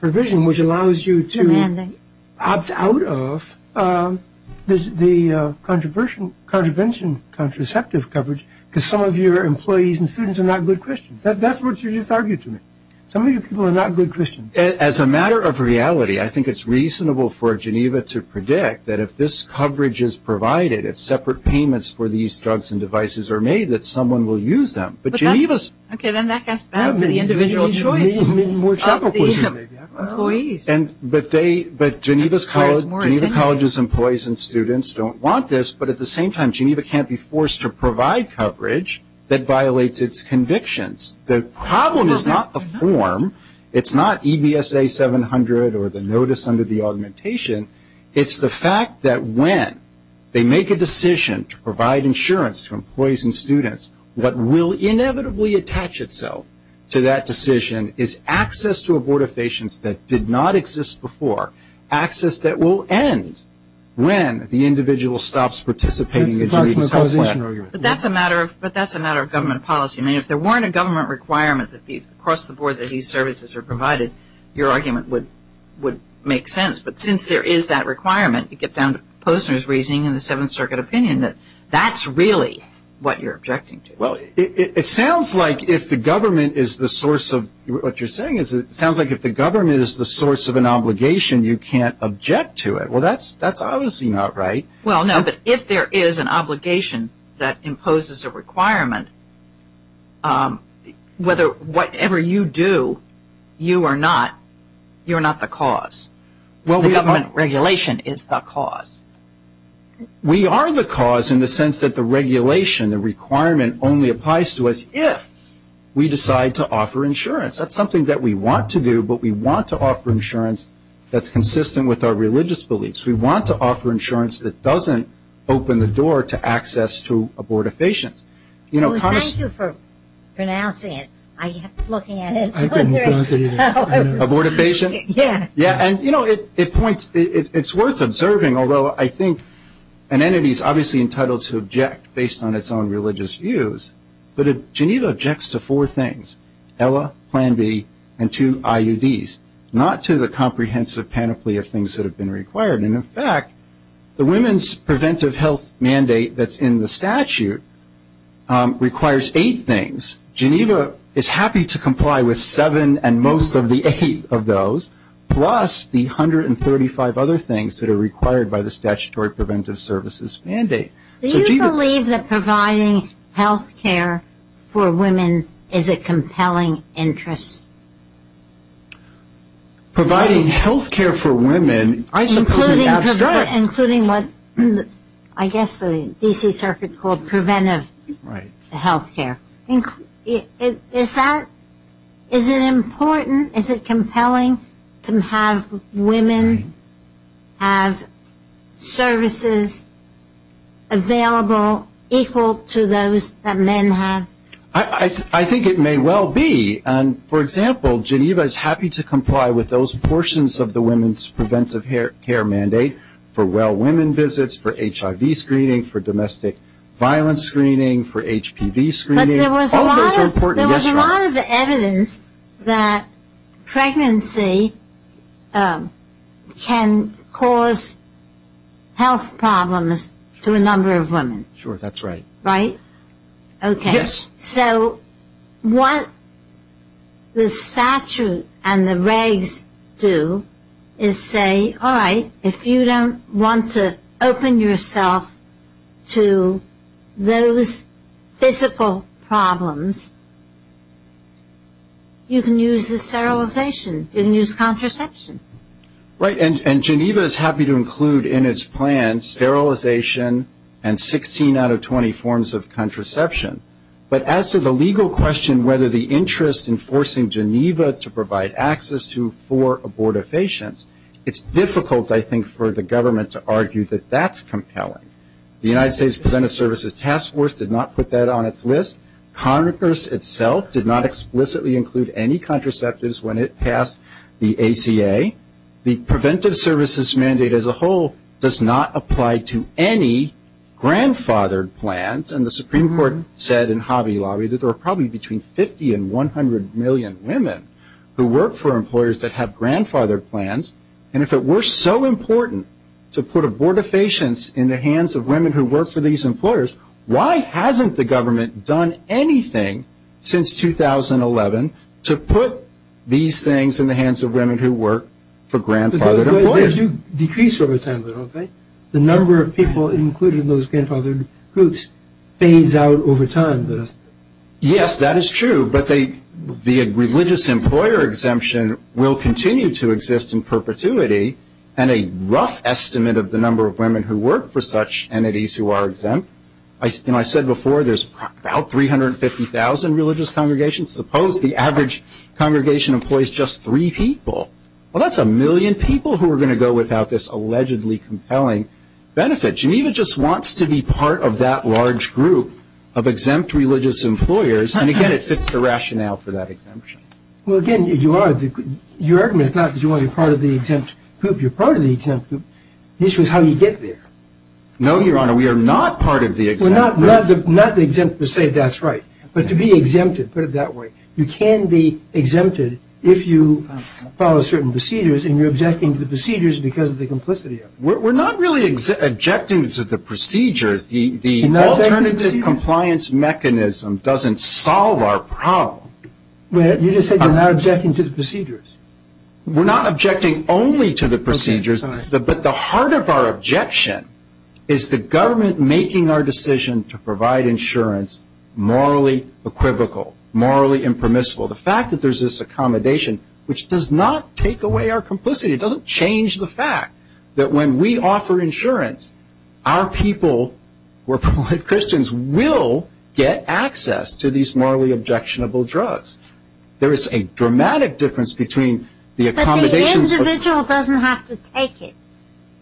provision, which allows you to opt out of the contravention contraceptive coverage because some of your employees and students are not good Christians. That's what you just argued to me. Some of your people are not good Christians. As a matter of reality, I think it's reasonable for Geneva to predict that if this coverage is provided, if separate payments for these drugs and devices are made, that someone will use them. Okay, then that goes back to the individual choice of the employees. But Geneva College's employees and students don't want this, but at the same time Geneva can't be forced to provide coverage that violates its convictions. The problem is not the form. It's not EBSA 700 or the notice under the augmentation. It's the fact that when they make a decision to provide insurance to employees and students, what will inevitably attach itself to that decision is access to abortifacients that did not exist before, access that will end when the individual stops participating in Geneva's health plan. But that's a matter of government policy. I mean, if there weren't a government requirement across the board that these services are provided, your argument would make sense. But since there is that requirement, you get down to Posner's reasoning in the Seventh Circuit opinion that that's really what you're objecting to. Well, it sounds like if the government is the source of what you're saying, it sounds like if the government is the source of an obligation, you can't object to it. Well, that's obviously not right. Well, no, but if there is an obligation that imposes a requirement, whatever you do, you are not the cause. The government regulation is the cause. We are the cause in the sense that the regulation, the requirement, only applies to us if we decide to offer insurance. That's something that we want to do, but we want to offer insurance that's consistent with our religious beliefs. We want to offer insurance that doesn't open the door to access to abortifacients. Well, thank you for pronouncing it. I kept looking at it. Abortifacient? Yeah. Yeah, and, you know, it points, it's worth observing, although I think an entity is obviously entitled to object based on its own religious views. But Geneva objects to four things, ELA, Plan B, and two IUDs, not to the comprehensive panoply of things that have been required. And, in fact, the women's preventive health mandate that's in the statute requires eight things. Geneva is happy to comply with seven and most of the eight of those, plus the 135 other things that are required by the statutory preventive services mandate. Do you believe that providing health care for women is a compelling interest? Providing health care for women, I suppose, is abstract. Including what I guess the D.C. Circuit called preventive health care. Is that, is it important, is it compelling to have women have services available equal to those that men have? I think it may well be. For example, Geneva is happy to comply with those portions of the women's preventive care mandate for well women visits, for HIV screening, for domestic violence screening, for HPV screening. But there was a lot of evidence that pregnancy can cause health problems to a number of women. Sure, that's right. Right? Yes. So what the statute and the regs do is say, all right, if you don't want to open yourself to those physical problems, you can use the sterilization, you can use contraception. Right. And Geneva is happy to include in its plan sterilization and 16 out of 20 forms of contraception. But as to the legal question whether the interest in forcing Geneva to provide access to for abortifacients, it's difficult, I think, for the government to argue that that's compelling. The United States Preventive Services Task Force did not put that on its list. Congress itself did not explicitly include any contraceptives when it passed the ACA. The preventive services mandate as a whole does not apply to any grandfathered plans. And the Supreme Court said in Hobby Lobby that there are probably between 50 and 100 million women who work for employers that have grandfathered plans. And if it were so important to put abortifacients in the hands of women who work for these employers, why hasn't the government done anything since 2011 to put these things in the hands of women who work for grandfathered employers? They do decrease over time, though, don't they? The number of people included in those grandfathered groups fades out over time. Yes, that is true. But the religious employer exemption will continue to exist in perpetuity. And a rough estimate of the number of women who work for such entities who are exempt, and I said before there's about 350,000 religious congregations. Suppose the average congregation employs just three people. Well, that's a million people who are going to go without this allegedly compelling benefit. Geneva just wants to be part of that large group of exempt religious employers. And, again, it fits the rationale for that exemption. Well, again, your argument is not that you want to be part of the exempt group. You're part of the exempt group. The issue is how you get there. No, Your Honor, we are not part of the exempt group. We're not exempt to say that's right. But to be exempted, put it that way, you can be exempted if you follow certain procedures and you're objecting to the procedures because of the complicity of it. We're not really objecting to the procedures. The alternative compliance mechanism doesn't solve our problem. You just said you're not objecting to the procedures. We're not objecting only to the procedures. But the heart of our objection is the government making our decision to provide insurance morally equivocal, morally impermissible. The fact that there's this accommodation, which does not take away our complicity, it doesn't change the fact that when we offer insurance, our people, we're polite Christians, will get access to these morally objectionable drugs. There is a dramatic difference between the accommodations. But the individual doesn't have to take it.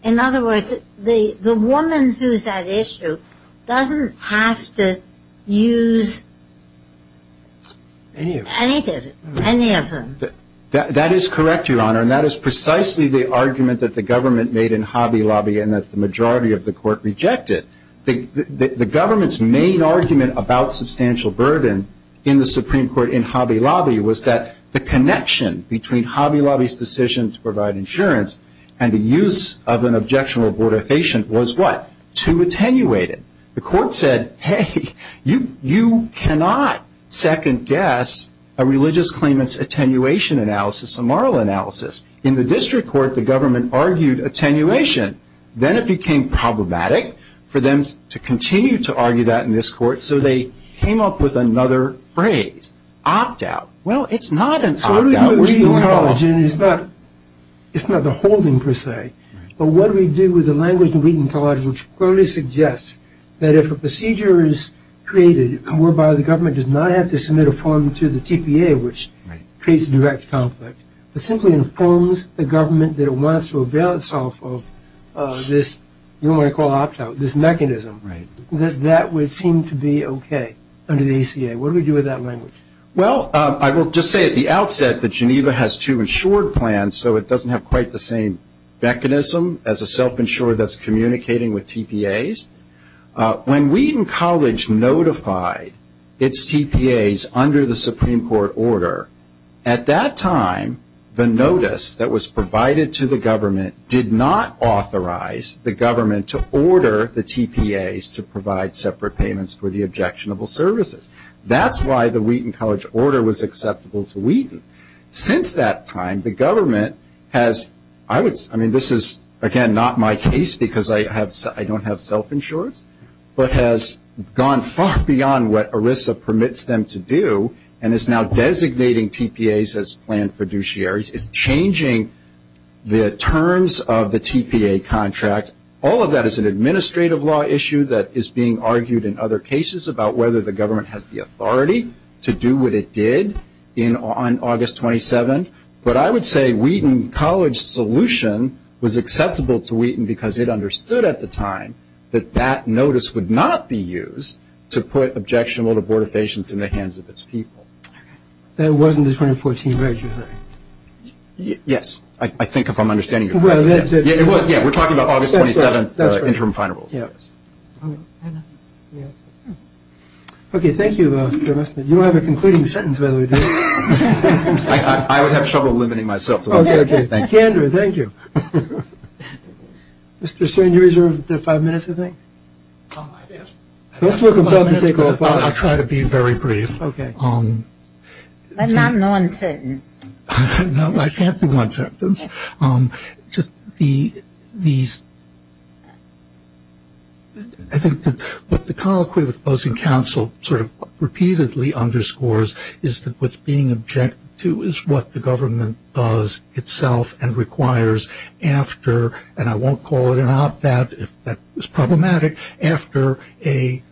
In other words, the woman who's at issue doesn't have to use any of them. That is correct, Your Honor, and that is precisely the argument that the government made in Hobby Lobby and that the majority of the court rejected. The government's main argument about substantial burden in the Supreme Court in Hobby Lobby was that the connection between Hobby Lobby's decision to provide insurance and the use of an objectionable abortifacient was what? To attenuate it. The court said, hey, you cannot second guess a religious claimant's attenuation analysis, a moral analysis. In the district court, the government argued attenuation. Then it became problematic for them to continue to argue that in this court, so they came up with another phrase, opt out. Well, it's not an opt out. It's not the holding, per se. But what do we do with the language of reading college, which clearly suggests that if a procedure is created whereby the government does not have to submit a form to the TPA, which creates a direct conflict, but simply informs the government that it wants to avail itself of this, you might call opt out, this mechanism, that that would seem to be okay under the ACA. What do we do with that language? Well, I will just say at the outset that Geneva has two insured plans, so it doesn't have quite the same mechanism as a self-insured that's communicating with TPAs. When Wheaton College notified its TPAs under the Supreme Court order, at that time the notice that was provided to the government did not authorize the government to order the TPAs to provide separate payments for the objectionable services. That's why the Wheaton College order was acceptable to Wheaton. Since that time, the government has, I mean, this is, again, not my case because I don't have self-insurance, but has gone far beyond what ERISA permits them to do and is now designating TPAs as planned fiduciaries. It's changing the terms of the TPA contract. All of that is an administrative law issue that is being argued in other cases about whether the government has the authority to do what it did on August 27th. But I would say Wheaton College's solution was acceptable to Wheaton because it understood at the time that that notice would not be used to put objectionable abortifacients in the hands of its people. Okay. That wasn't the 2014 register? Yes. I think if I'm understanding you correctly. Well, that's it. Yeah, it was. Yeah, we're talking about August 27th interim final rules. Okay, thank you. You don't have a concluding sentence, by the way, do you? I would have trouble limiting myself to that. Okay. Candor, thank you. Mr. Stern, you reserved five minutes, I think. I did. Don't feel compelled to take all five. I'll try to be very brief. Okay. But not in one sentence. No, I can't do one sentence. Just the – I think that what the colloquy with opposing counsel sort of repeatedly underscores is that what's being objected to is what the government does itself and requires after, and I won't call it an op-ed, if that was problematic, after an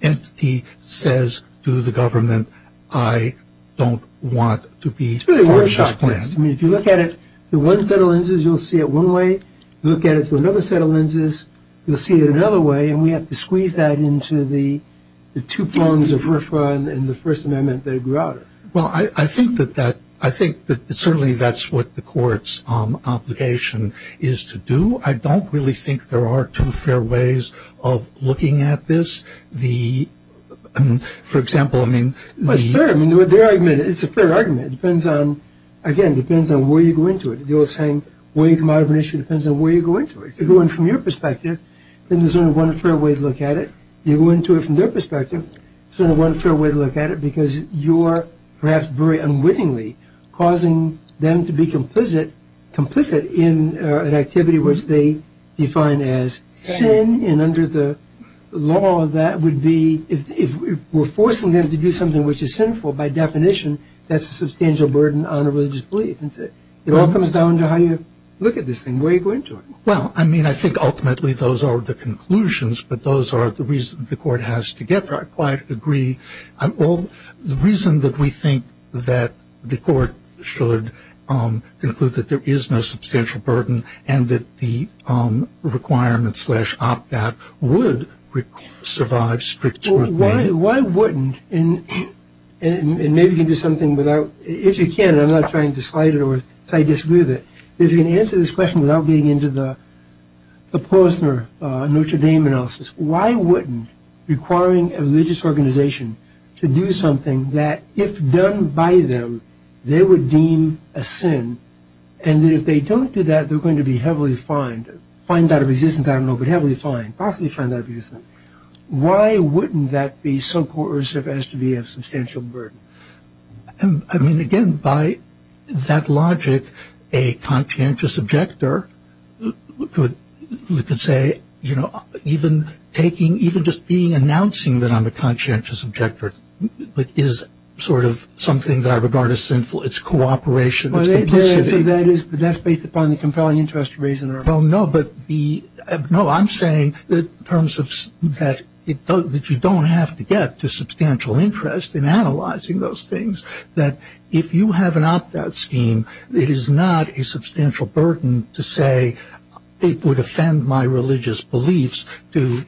entity says to the government, I don't want to be part of this plan. If you look at it, the one set of lenses, you'll see it one way. Look at it for another set of lenses, you'll see it another way, and we have to squeeze that into the two prongs of RFRA and the First Amendment that grew out of it. Well, I think that certainly that's what the court's obligation is to do. I don't really think there are two fair ways of looking at this. For example, I mean the – Well, it's fair. It's a fair argument. It depends on – again, it depends on where you go into it. The old saying, where you come out of an issue depends on where you go into it. If you go in from your perspective, then there's only one fair way to look at it. If you go into it from their perspective, there's only one fair way to look at it because you're perhaps very unwittingly causing them to be complicit in an activity which they define as sin and under the law that would be – if we're forcing them to do something which is sinful, by definition, that's a substantial burden on a religious belief. It all comes down to how you look at this thing, where you go into it. Well, I mean, I think ultimately those are the conclusions, but those are the reasons the court has to get there. I quite agree. The reason that we think that the court should conclude that there is no substantial burden and that the requirement slash opt-out would survive strict scrutiny – and maybe you can do something without – if you can, and I'm not trying to slight it or say I disagree with it, if you can answer this question without being into the Posner-Notre Dame analysis, why wouldn't requiring a religious organization to do something that, if done by them, they would deem a sin and that if they don't do that, they're going to be heavily fined – fined out of existence, I don't know, but heavily fined, possibly fined out of existence. Why wouldn't that be so coercive as to be a substantial burden? I mean, again, by that logic, a conscientious objector could say, you know, even taking – even just being announcing that I'm a conscientious objector is sort of something that I regard as sinful. It's cooperation. That's based upon the compelling interest of reason or – Well, no, but the – no, I'm saying that in terms of – that you don't have to get to substantial interest in analyzing those things, that if you have an opt-out scheme, it is not a substantial burden to say, it would offend my religious beliefs to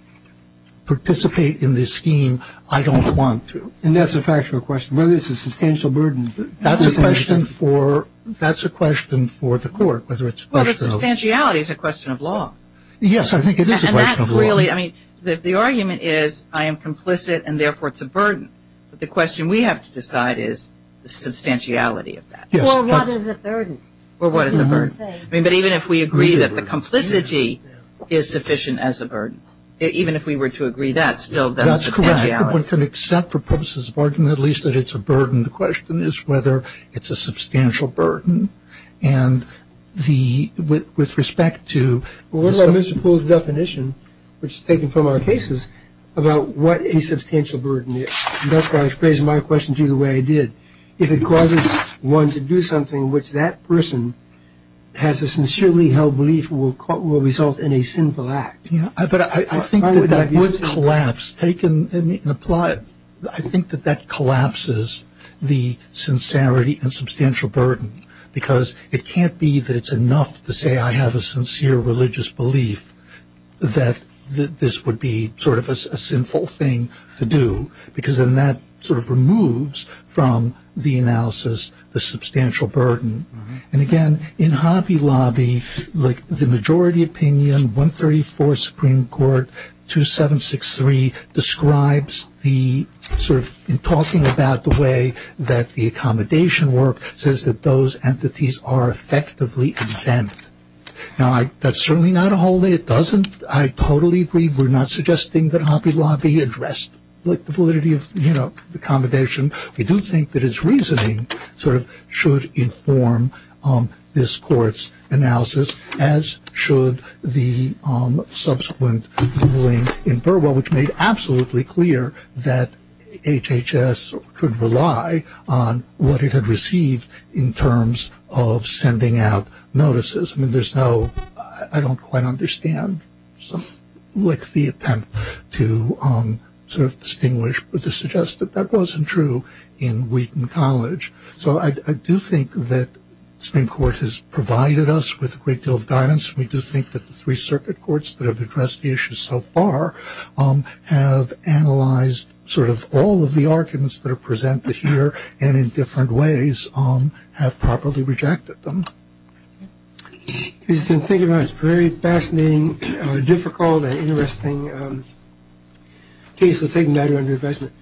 participate in this scheme. I don't want to. And that's a factual question. Whether it's a substantial burden – That's a question for – that's a question for the court, whether it's – Well, the substantiality is a question of law. Yes, I think it is a question of law. And that's really – I mean, the argument is I am complicit and therefore it's a burden. But the question we have to decide is the substantiality of that. Or what is a burden? Or what is a burden. I mean, but even if we agree that the complicity is sufficient as a burden, even if we were to agree that, still, that's a substantiality. That's correct. One can accept for purposes of argument at least that it's a burden. The question is whether it's a substantial burden. And the – with respect to – Well, what about Mr. Poole's definition, which is taken from our cases, about what a substantial burden is. And that's why I phrased my question to you the way I did. If it causes one to do something which that person has a sincerely held belief will result in a sinful act. But I think that that would collapse. Take and apply it. I think that that collapses the sincerity and substantial burden. Because it can't be that it's enough to say I have a sincere religious belief that this would be sort of a sinful thing to do. Because then that sort of removes from the analysis the substantial burden. And, again, in Hobby Lobby, like the majority opinion, 134 Supreme Court, 2763, describes the – sort of in talking about the way that the accommodation work says that those entities are effectively exempt. Now, that's certainly not a whole. It doesn't – I totally agree. We're not suggesting that Hobby Lobby addressed the validity of accommodation. We do think that its reasoning sort of should inform this court's analysis, as should the subsequent ruling in Burwell, which made absolutely clear that HHS could rely on what it had received in terms of sending out notices. I mean, there's no – I don't quite understand the attempt to sort of distinguish but to suggest that that wasn't true in Wheaton College. So I do think that Supreme Court has provided us with a great deal of guidance. We do think that the three circuit courts that have addressed the issue so far have analyzed sort of all of the arguments that are presented here and in different ways have properly rejected them. Thank you very much. Very fascinating, difficult, and interesting case. We'll take a matter under advisement.